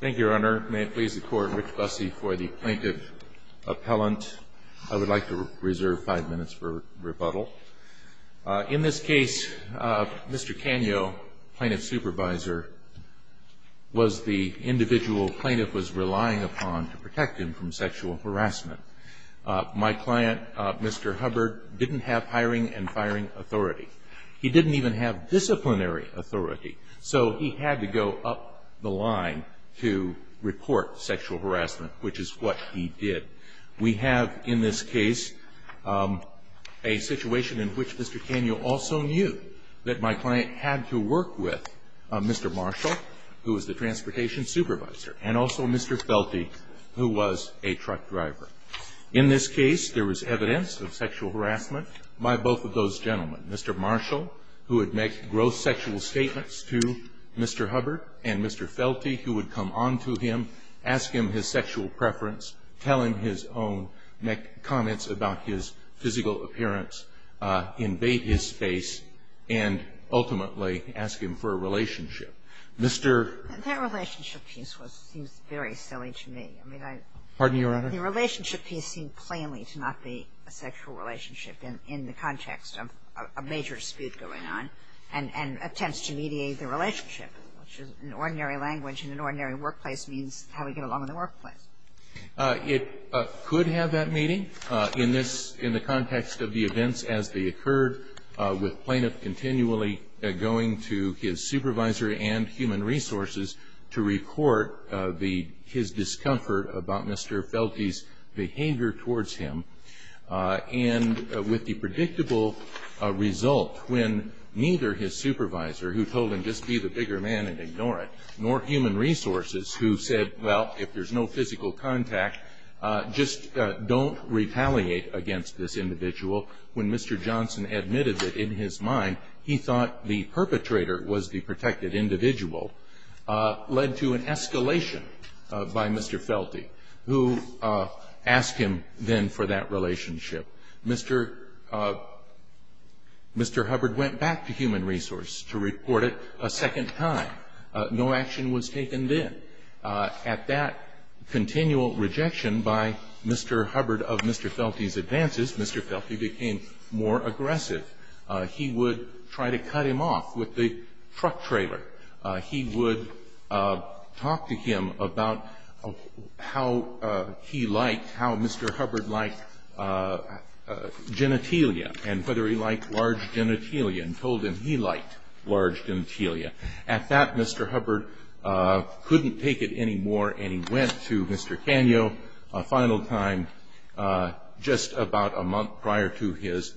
Thank you, Your Honor. May it please the Court, Rich Busse for the Plaintiff Appellant. I would like to reserve five minutes for rebuttal. In this case, Mr. Canio, Plaintiff Supervisor, was the individual Plaintiff was relying upon to protect him from sexual harassment. My client, Mr. Hubbard, didn't have hiring and firing authority. He didn't even have disciplinary authority. So he had to go up the line to report sexual harassment, which is what he did. We have in this case a situation in which Mr. Canio also knew that my client had to work with Mr. Marshall, who was the Transportation Supervisor, and also Mr. Felty, who was a truck driver. In this case, there was evidence of sexual harassment by both of those gentlemen. Mr. Marshall, who would make gross sexual statements to Mr. Hubbard, and Mr. Felty, who would come on to him, ask him his sexual preference, tell him his own, make comments about his physical appearance, invade his space, and ultimately ask him for a relationship. Mr. Kagan. And that relationship piece was seems very silly to me. I mean, I don't think the relationship piece seemed plainly to not be a sexual relationship in the context of a major dispute going on and attempts to mediate the relationship, which in ordinary language in an ordinary workplace means how we get along in the workplace. It could have that meaning in this, in the context of the events as they occurred, with plaintiff continually going to his supervisor and human resources to record his discomfort about Mr. Felty's behavior towards him, and with the predictable result when neither his supervisor, who told him just be the bigger man and ignore it, nor human resources, who said, well, if there's no physical contact, just don't retaliate against this individual, when Mr. Johnson admitted that in his mind he thought the perpetrator was the protected individual, led to an escalation by Mr. Felty, who asked him then for that relationship. Mr. Hubbard went back to human resource to report it a second time. No action was taken then. At that continual rejection by Mr. Hubbard of Mr. Felty's advances, Mr. Felty became more aggressive. He would try to cut him off with the truck trailer. He would talk to him about how he liked, how Mr. Hubbard liked genitalia and whether he liked large genitalia, and told him he liked large genitalia. At that, Mr. Hubbard couldn't take it anymore, and he went to Mr. Canio a final time just about a month prior to his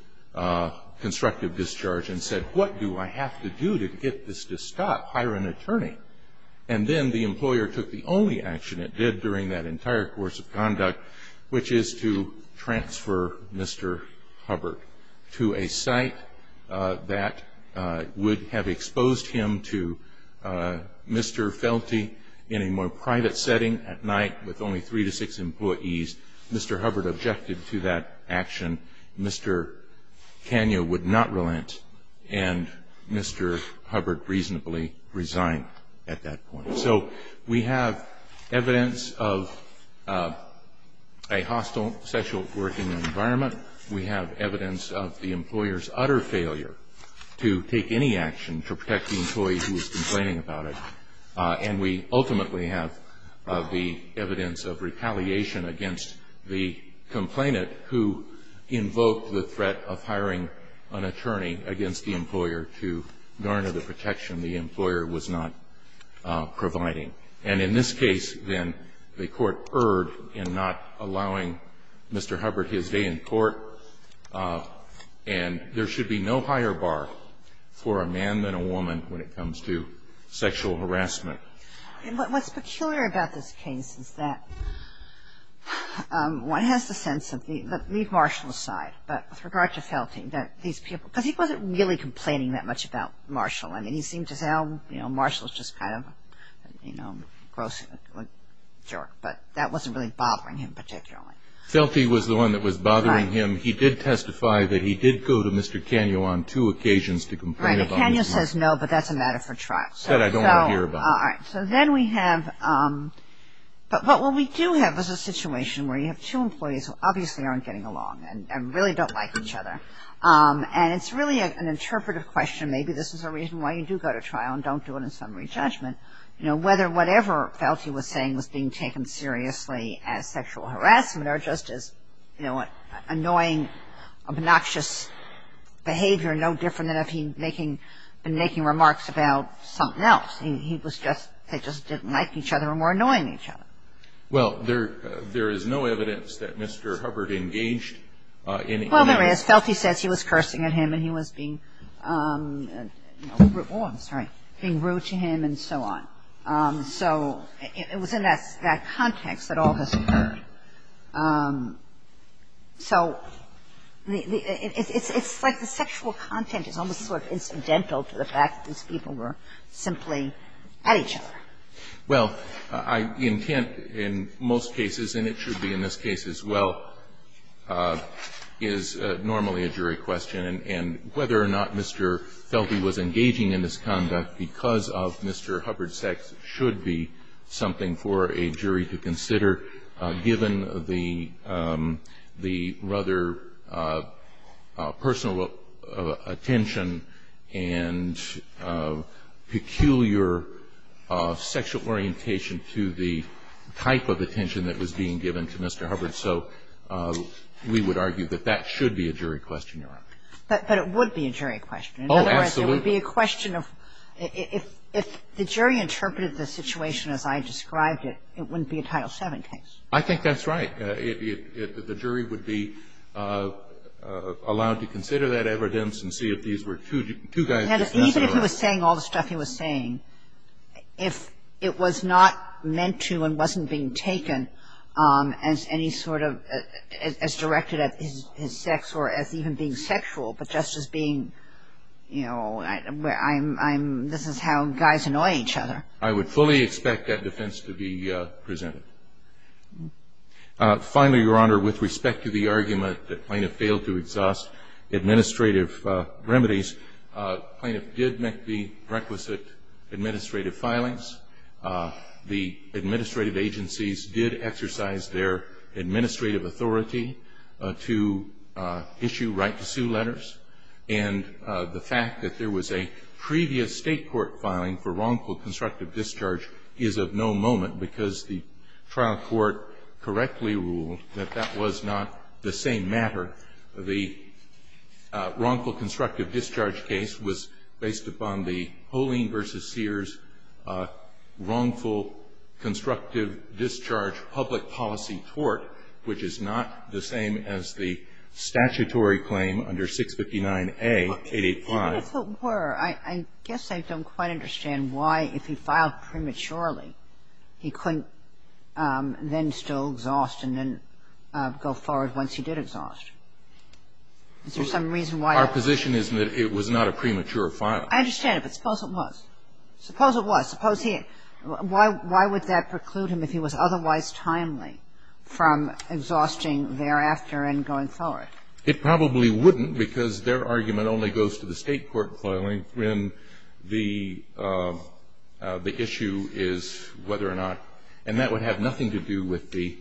constructive discharge and said, what do I have to do to get this to stop? Hire an attorney. And then the employer took the only action it did during that entire course of conduct, which is to transfer Mr. Hubbard to a site that would have exposed him to Mr. Felty in a more private setting at night with only three to six employees. Mr. Hubbard objected to that action. Mr. Canio would not relent, and Mr. Hubbard reasonably resigned at that point. So we have evidence of a hostile sexual working environment. We have evidence of the employer's utter failure to take any action to protect the employee who was complaining about it. And we ultimately have the evidence of retaliation against the complainant who invoked the threat of hiring an attorney against the employer to garner the protection the employer was not providing. And in this case, then, the Court erred in not allowing Mr. Hubbard his day in court. And there should be no higher bar for a man than a woman when it comes to sexual harassment. And what's peculiar about this case is that one has the sense of the leave Marshall aside, but with regard to Felty, that these people – because he wasn't really complaining that much about Marshall. I mean, he seemed to say, oh, you know, Marshall's just kind of, you know, a gross jerk. But that wasn't really bothering him particularly. Felty was the one that was bothering him. He did testify that he did go to Mr. Canio on two occasions to complain about Mr. – Right. Canio says no, but that's a matter for trial. That I don't want to hear about. All right. So then we have – but what we do have is a situation where you have two employees who obviously aren't getting along and really don't like each other. And it's really an interpretive question. Maybe this is a reason why you do go to trial and don't do it in summary judgment. You know, whether whatever Felty was saying was being taken seriously as sexual harassment or just as, you know, annoying, obnoxious behavior, no different than if he had been making remarks about something else. He was just – they just didn't like each other and were annoying each other. Well, there is no evidence that Mr. Hubbard engaged in – Well, there is. Felty says he was cursing at him and he was being rude to him and so on. So it was in that context that all this occurred. So it's like the sexual content is almost sort of incidental to the fact that these people were simply at each other. Well, intent in most cases, and it should be in this case as well, is normally a jury question. And whether or not Mr. Felty was engaging in this conduct because of Mr. Hubbard's sex should be something for a jury to consider given the rather personal attention and peculiar sexual orientation to the type of attention that was being given to Mr. Hubbard. So we would argue that that should be a jury question, Your Honor. But it would be a jury question. Oh, absolutely. It would be a question of – if the jury interpreted the situation as I described it, it wouldn't be a Title VII case. I think that's right. The jury would be allowed to consider that evidence and see if these were two guys just messing around. And even if he was saying all the stuff he was saying, if it was not meant to and wasn't being taken as any sort of – as being sexual, but just as being, you know, I'm – this is how guys annoy each other. I would fully expect that defense to be presented. Finally, Your Honor, with respect to the argument that Plaintiff failed to exhaust administrative remedies, Plaintiff did make the requisite administrative filings. The administrative agencies did exercise their administrative authority to issue right-to-sue letters. And the fact that there was a previous state court filing for wrongful constructive discharge is of no moment because the trial court correctly ruled that that was not the same matter. The wrongful constructive discharge case was based upon the Holin v. Sears wrongful constructive discharge public policy tort, which is not the same as the statutory claim under 659A.885. Even if it were, I guess I don't quite understand why, if he filed prematurely, he couldn't then still exhaust and then go forward once he did exhaust. Is there some reason why? Our position is that it was not a premature filing. I understand it, but suppose it was. Suppose it was. Suppose he – why would that preclude him, if he was otherwise timely, from exhausting thereafter and going forward? It probably wouldn't because their argument only goes to the state court filing when the issue is whether or not – and that would have nothing to do with the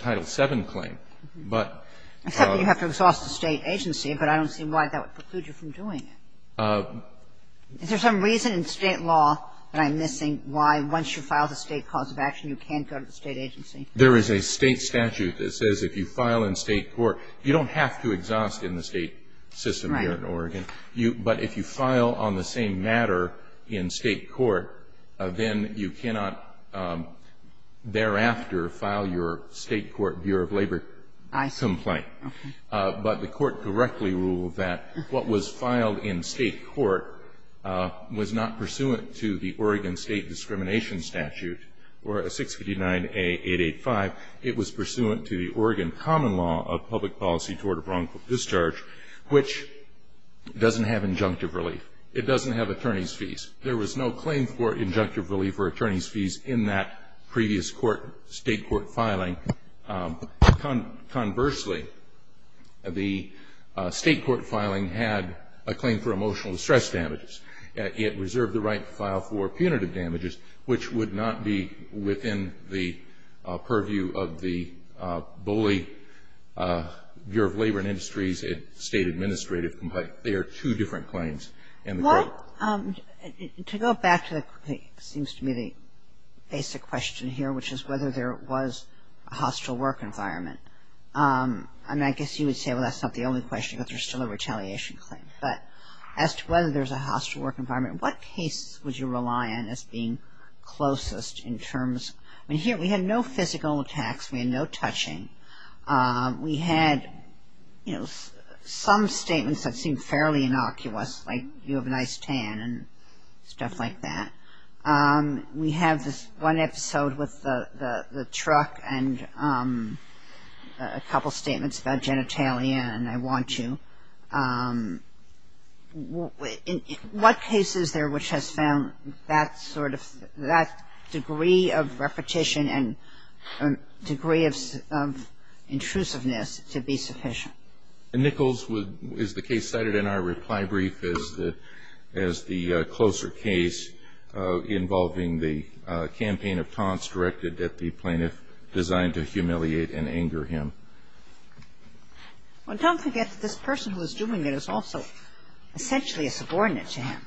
Title VII claim. But – Except that you have to exhaust the state agency, but I don't see why that would preclude you from doing it. Is there some reason in state law that I'm missing why once you file the state cause of action you can't go to the state agency? There is a state statute that says if you file in state court – you don't have to exhaust in the state system here in Oregon. Right. But if you file on the same matter in state court, then you cannot thereafter file your state court view of labor complaint. I see. Okay. But the Court directly ruled that what was filed in state court was not pursuant to the Oregon State Discrimination Statute or 659A885. It was pursuant to the Oregon common law of public policy toward wrongful discharge, which doesn't have injunctive relief. It doesn't have attorney's fees. There was no claim for injunctive relief or attorney's fees in that previous court – state court filing. Conversely, the state court filing had a claim for emotional distress damages. It reserved the right to file for punitive damages, which would not be within the purview of the bully Bureau of Labor and Industries and state administrative complaint. They are two different claims in the court. Well, to go back to what seems to be the basic question here, which is whether there was a hostile work environment. And I guess you would say, well, that's not the only question, that there's still a retaliation claim. But as to whether there's a hostile work environment, what case would you rely on as being closest in terms – I mean, here we had no physical attacks. We had no touching. We had, you know, some statements that seemed fairly innocuous, like you have a nice tan and stuff like that. We have this one episode with the truck and a couple statements about genitalia, and I want you – what case is there which has found that sort of – that degree of repetition and degree of intrusiveness to be sufficient? Nichols is the case cited in our reply brief as the closer case involving the campaign of taunts directed at the plaintiff designed to humiliate and anger him. Well, don't forget that this person who is doing it is also essentially a subordinate to him,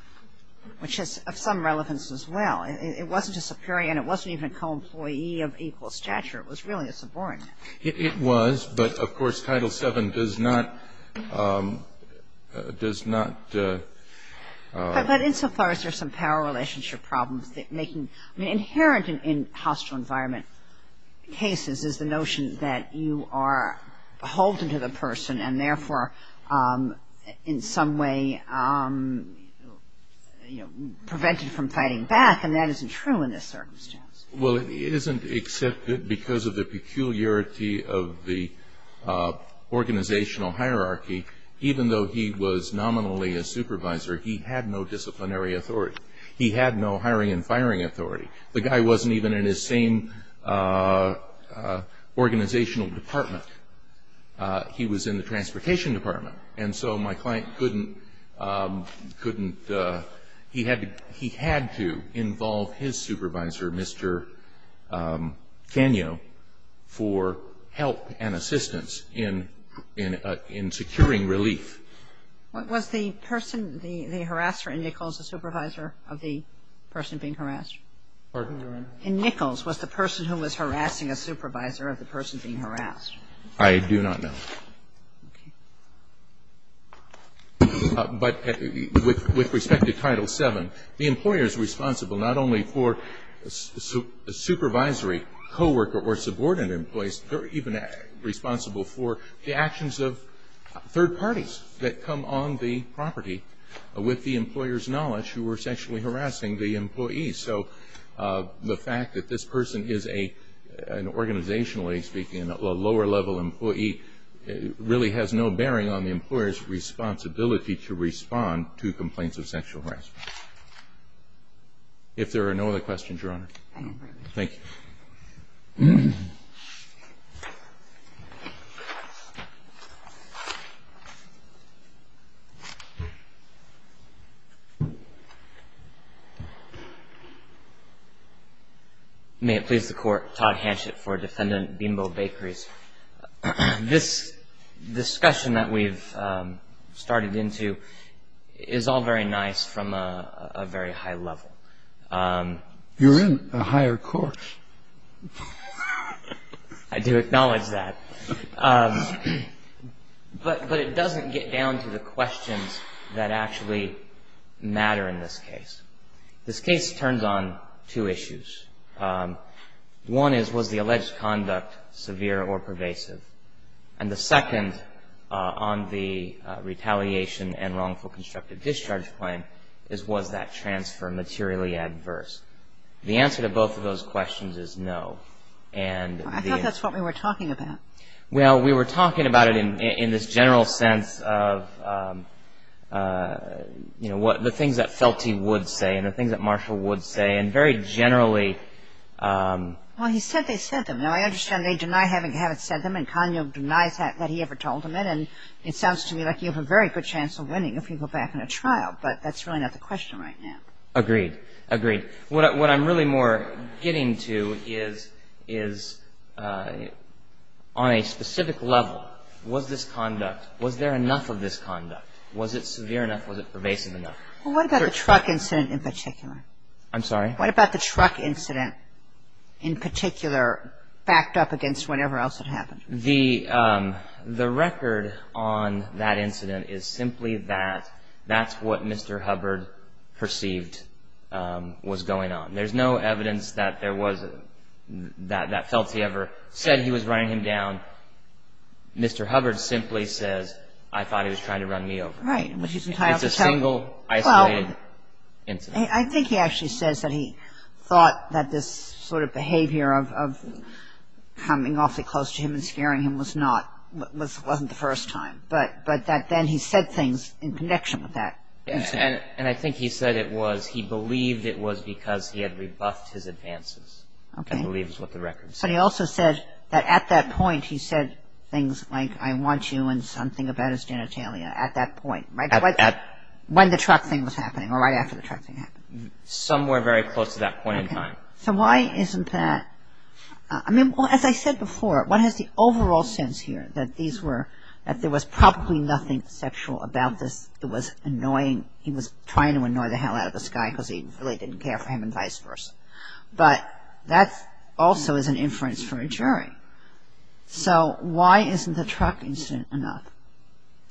which is of some relevance as well. It wasn't a superior and it wasn't even a co-employee of equal stature. It was really a subordinate. It was, but, of course, Title VII does not – does not – But insofar as there's some power relationship problems making – I mean, inherent in hostile environment cases is the notion that you are beholden to the person and therefore in some way, you know, prevented from fighting back, and that isn't true in this circumstance. Well, it isn't except that because of the peculiarity of the organizational hierarchy, even though he was nominally a supervisor, he had no disciplinary authority. He had no hiring and firing authority. The guy wasn't even in his same organizational department. He was in the transportation department, and so my client couldn't – couldn't – he had to involve his supervisor, Mr. Canio, for help and assistance in securing relief. Was the person – the harasser in Nichols a supervisor of the person being harassed? Pardon? In Nichols, was the person who was harassing a supervisor of the person being harassed? I do not know. Okay. But with respect to Title VII, the employer is responsible not only for a supervisory co-worker or subordinate in place, they're even responsible for the actions of third parties that come on the property with the employer's knowledge who were sexually harassing the employee. So the fact that this person is a – an organizationally speaking, a lower-level employee, really has no bearing on the employer's responsibility to respond to complaints of sexual harassment. If there are no other questions, Your Honor. Thank you. Thank you. May it please the Court. Todd Hanchett for Defendant Bean Bowl Bakeries. This discussion that we've started into is all very nice from a very high level. You're in a higher court. I do acknowledge that. But it doesn't get down to the questions that actually matter in this case. This case turns on two issues. One is, was the alleged conduct severe or pervasive? And the second on the retaliation and wrongful constructive discharge claim is, was that transfer materially adverse? The answer to both of those questions is no. I thought that's what we were talking about. Well, we were talking about it in this general sense of, you know, the things that Felty would say and the things that Marshall would say. And very generally – Well, he said they said them. Now, I understand they deny having said them and Kanyo denies that he ever told him it. And it sounds to me like you have a very good chance of winning if you go back on a trial. But that's really not the question right now. Agreed. Agreed. What I'm really more getting to is, on a specific level, was this conduct – was there enough of this conduct? Was it severe enough? Was it pervasive enough? Well, what about the truck incident in particular? I'm sorry? What about the truck incident in particular backed up against whatever else had happened? The record on that incident is simply that that's what Mr. Hubbard perceived was going on. There's no evidence that Felty ever said he was running him down. Mr. Hubbard simply says, I thought he was trying to run me over. Right. It's a single, isolated incident. I think he actually says that he thought that this sort of behavior of coming awfully close to him and scaring him was not – wasn't the first time. But that then he said things in connection with that incident. And I think he said it was – he believed it was because he had rebuffed his advances. Okay. I believe is what the record says. So he also said that at that point he said things like, I want you and something about his genitalia at that point. When the truck thing was happening or right after the truck thing happened. Somewhere very close to that point in time. So why isn't that – I mean, as I said before, what is the overall sense here that these were – that there was probably nothing sexual about this. It was annoying. He was trying to annoy the hell out of this guy because he really didn't care for him and vice versa. But that also is an inference from a jury. So why isn't the truck incident enough?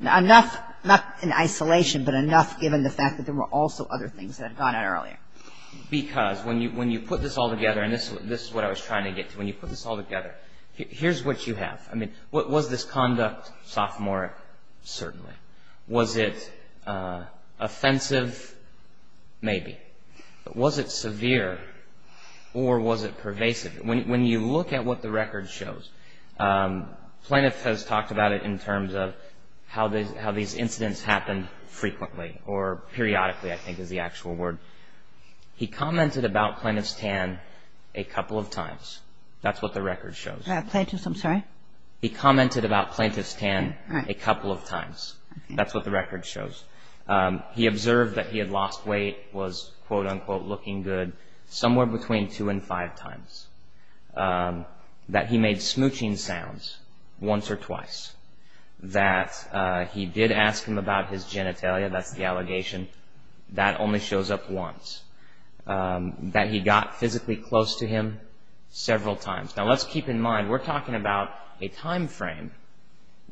Enough, not in isolation, but enough given the fact that there were also other things that had gone on earlier. Because when you put this all together, and this is what I was trying to get to, when you put this all together, here's what you have. I mean, was this conduct sophomoric? Certainly. Was it offensive? Maybe. But was it severe or was it pervasive? When you look at what the record shows, Plaintiff has talked about it in terms of how these incidents happened frequently or periodically I think is the actual word. He commented about Plaintiff's tan a couple of times. That's what the record shows. Plaintiff's, I'm sorry? He commented about Plaintiff's tan a couple of times. That's what the record shows. He observed that he had lost weight, was quote-unquote looking good somewhere between two and five times. That he made smooching sounds once or twice. That he did ask him about his genitalia, that's the allegation. That only shows up once. That he got physically close to him several times. Now let's keep in mind we're talking about a time frame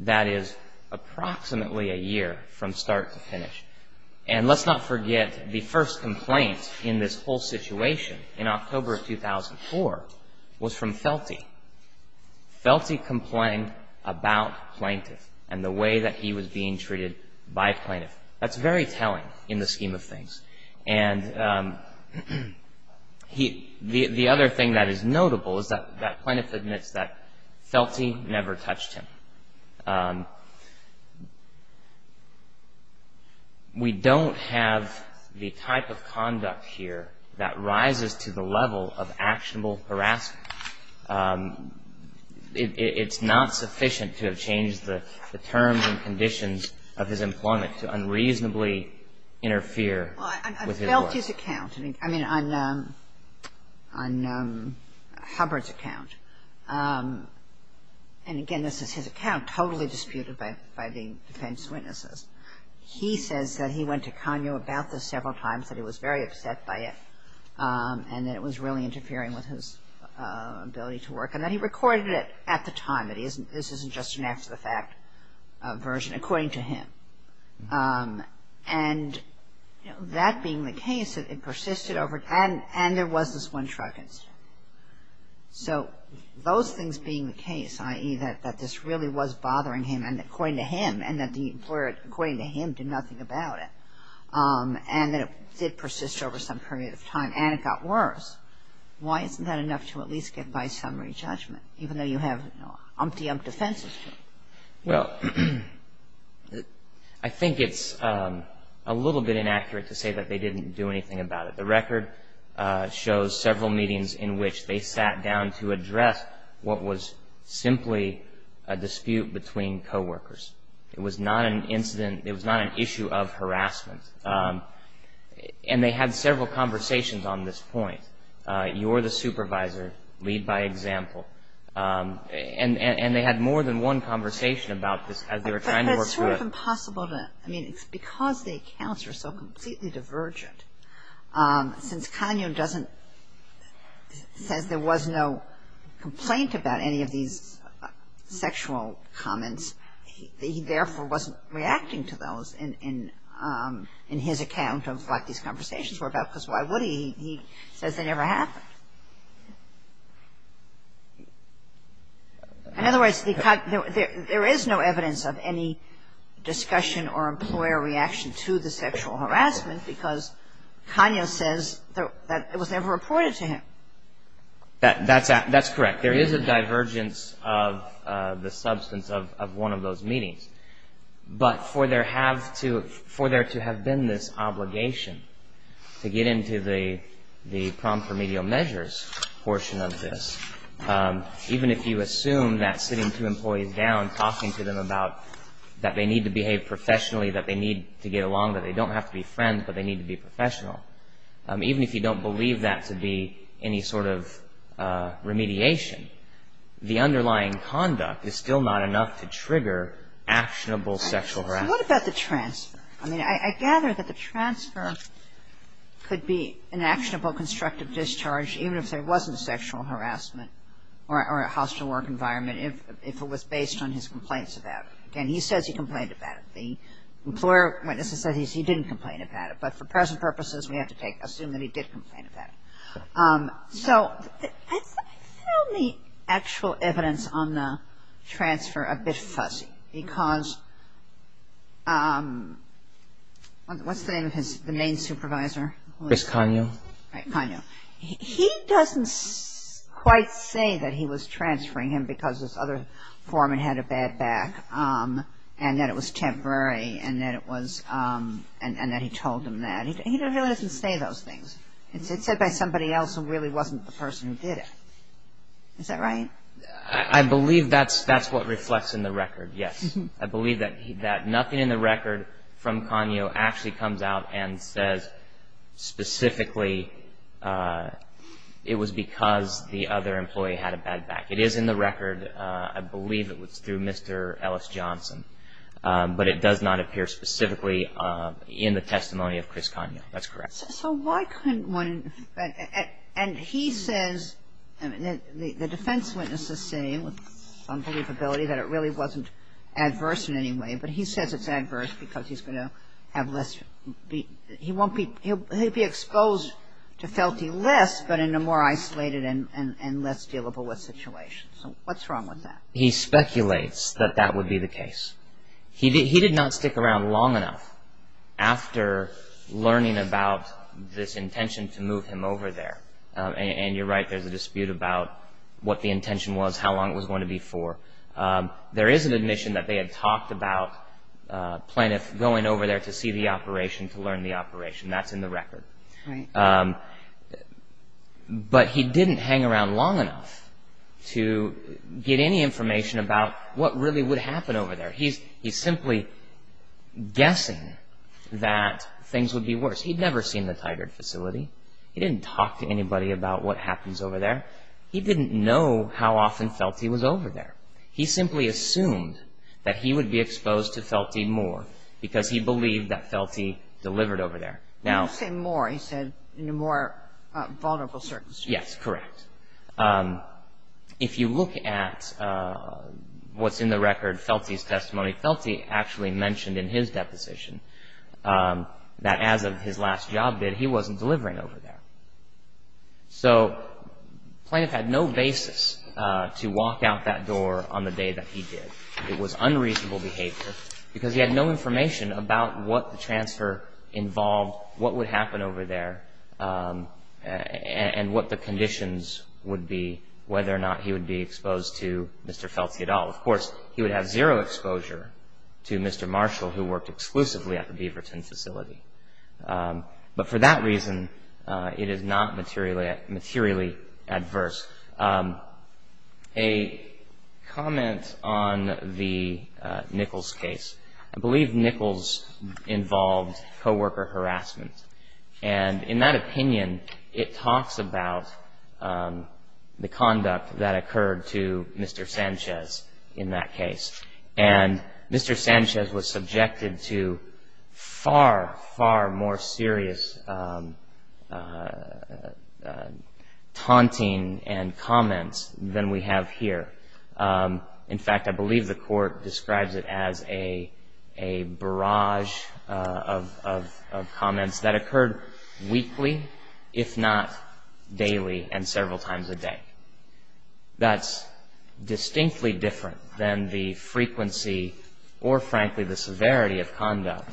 that is approximately a year from start to finish. And let's not forget the first complaint in this whole situation in October of 2004 was from Felty. Felty complained about Plaintiff and the way that he was being treated by Plaintiff. That's very telling in the scheme of things. And the other thing that is notable is that Plaintiff admits that Felty never touched him. We don't have the type of conduct here that rises to the level of actionable harassment. It's not sufficient to have changed the terms and conditions of his employment to unreasonably interfere. Well, on Felty's account, I mean on Hubbard's account, and again this is his account totally disputed by the defense witnesses. He says that he went to Kanye about this several times, that he was very upset by it. And that it was really interfering with his ability to work. And that he recorded it at the time. That this isn't just an after the fact version according to him. And that being the case, it persisted over time. And there was this one truck incident. So those things being the case, i.e., that this really was bothering him and according to him, and that the employer according to him did nothing about it. And that it did persist over some period of time. And it got worse. Why isn't that enough to at least get by summary judgment, even though you have umpty ump defenses to it? Well, I think it's a little bit inaccurate to say that they didn't do anything about it. The record shows several meetings in which they sat down to address what was simply a dispute between coworkers. It was not an incident, it was not an issue of harassment. And they had several conversations on this point. You're the supervisor, lead by example. And they had more than one conversation about this as they were trying to work through it. But it's sort of impossible to, I mean, it's because the accounts are so completely divergent. Since Kanye doesn't, says there was no complaint about any of these sexual comments, he therefore wasn't reacting to those in his account of what these conversations were about. Because why would he? He says they never happened. In other words, there is no evidence of any discussion or employer reaction to the sexual harassment because Kanye says that it was never reported to him. That's correct. There is a divergence of the substance of one of those meetings. But for there to have been this obligation to get into the prom-for-media-measures portion of this, even if you assume that sitting two employees down, talking to them about that they need to behave professionally, that they need to get along, that they don't have to be friends, but they need to be professional, even if you don't believe that to be any sort of remediation, the underlying conduct is still not enough to trigger actionable sexual harassment. What about the transfer? I mean, I gather that the transfer could be an actionable constructive discharge, even if there wasn't sexual harassment or a hostile work environment, if it was based on his complaints about it. Again, he says he complained about it. The employer witnesses said he didn't complain about it. But for present purposes, we have to assume that he did complain about it. So I found the actual evidence on the transfer a bit fuzzy. Because what's the name of the main supervisor? Miss Kanyo. Right, Kanyo. He doesn't quite say that he was transferring him because this other foreman had a bad back and that it was temporary and that he told him that. He really doesn't say those things. It's said by somebody else who really wasn't the person who did it. Is that right? I believe that's what reflects in the record, yes. I believe that nothing in the record from Kanyo actually comes out and says specifically it was because the other employee had a bad back. It is in the record. I believe it was through Mr. Ellis Johnson. But it does not appear specifically in the testimony of Chris Kanyo. That's correct. So why couldn't one – and he says, the defense witnesses say with some believability that it really wasn't adverse in any way. But he says it's adverse because he's going to have less – he won't be – he'll be exposed to felting less but in a more isolated and less dealable with situation. So what's wrong with that? He speculates that that would be the case. He did not stick around long enough after learning about this intention to move him over there. And you're right, there's a dispute about what the intention was, how long it was going to be for. There is an admission that they had talked about plaintiffs going over there to see the operation, to learn the operation. That's in the record. Right. But he didn't hang around long enough to get any information about what really would happen over there. He's simply guessing that things would be worse. He'd never seen the Tigard facility. He didn't talk to anybody about what happens over there. He didn't know how often Felty was over there. He simply assumed that he would be exposed to Felty more because he believed that Felty delivered over there. You say more. He said in a more vulnerable circumstance. Yes, correct. If you look at what's in the record, Felty's testimony, Felty actually mentioned in his deposition that as of his last job did, he wasn't delivering over there. So plaintiff had no basis to walk out that door on the day that he did. It was unreasonable behavior because he had no information about what the transfer involved, what would happen over there, and what the conditions would be, whether or not he would be exposed to Mr. Felty at all. Of course, he would have zero exposure to Mr. Marshall, who worked exclusively at the Beaverton facility. But for that reason, it is not materially adverse. A comment on the Nichols case. I believe Nichols involved co-worker harassment. And in that opinion, it talks about the conduct that occurred to Mr. Sanchez in that case. And Mr. Sanchez was subjected to far, far more serious taunting and comments than we have here. In fact, I believe the court describes it as a barrage of comments that occurred weekly, if not daily, and several times a day. That's distinctly different than the frequency or, frankly, the severity of conduct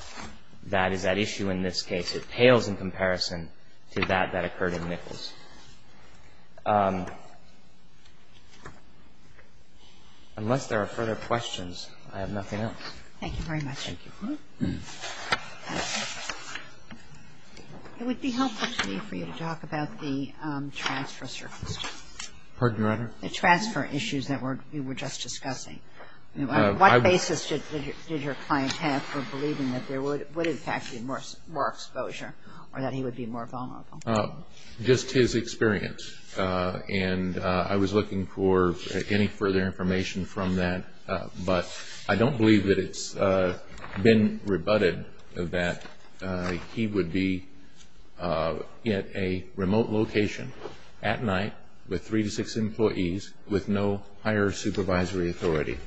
that is at issue in this case. It pales in comparison to that that occurred in Nichols. Unless there are further questions, I have nothing else. Thank you very much. Thank you. It would be helpful to me for you to talk about the transfer circumstance. Pardon, Your Honor? The transfer issues that we were just discussing. What basis did your client have for believing that there would in fact be more exposure or that he would be more vulnerable? Just his experience. And I was looking for any further information from that. But I don't believe that it's been rebutted that he would be at a remote location at night with three to six employees, with no higher supervisory authority.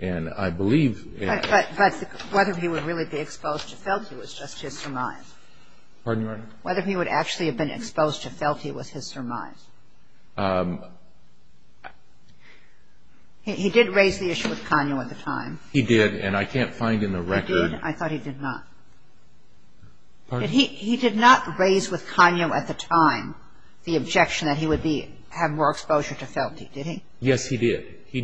And I believe that he would really be exposed to felt he was just his surmise. Pardon, Your Honor? Whether he would actually have been exposed to felt he was his surmise. He did raise the issue with Kanyo at the time. He did. And I can't find in the record. He did? I thought he did not. Pardon? He did not raise with Kanyo at the time the objection that he would have more exposure to felt he. Did he? Yes, he did. He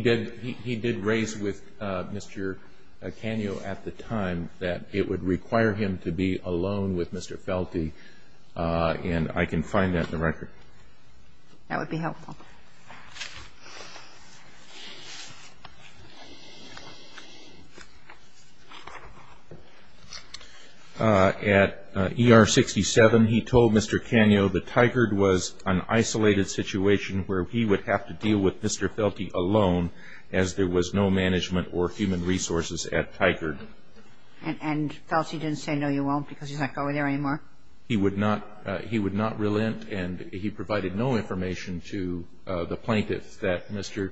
did raise with Mr. Kanyo at the time that it would require him to be alone with Mr. Felty. And I can find that in the record. That would be helpful. At ER 67, he told Mr. Kanyo that Tigard was an isolated situation where he would have to deal with Mr. Felty alone as there was no management or human resources at Tigard. And felt he didn't say no, you won't, because he's not going there anymore? He would not. He would not relent, and he provided no information to the plaintiff that Mr.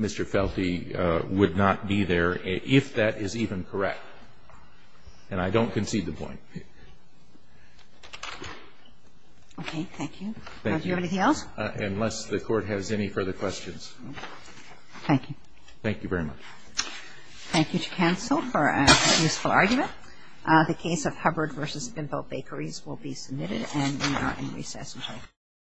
Felty would not be there if that is even correct. And I don't concede the point. Okay. Thank you. Thank you. Do you have anything else? Unless the Court has any further questions. Thank you. Thank you very much. Thank you to counsel for a useful argument. The case of Hubbard v. Binville Bakeries will be submitted and we are in recess.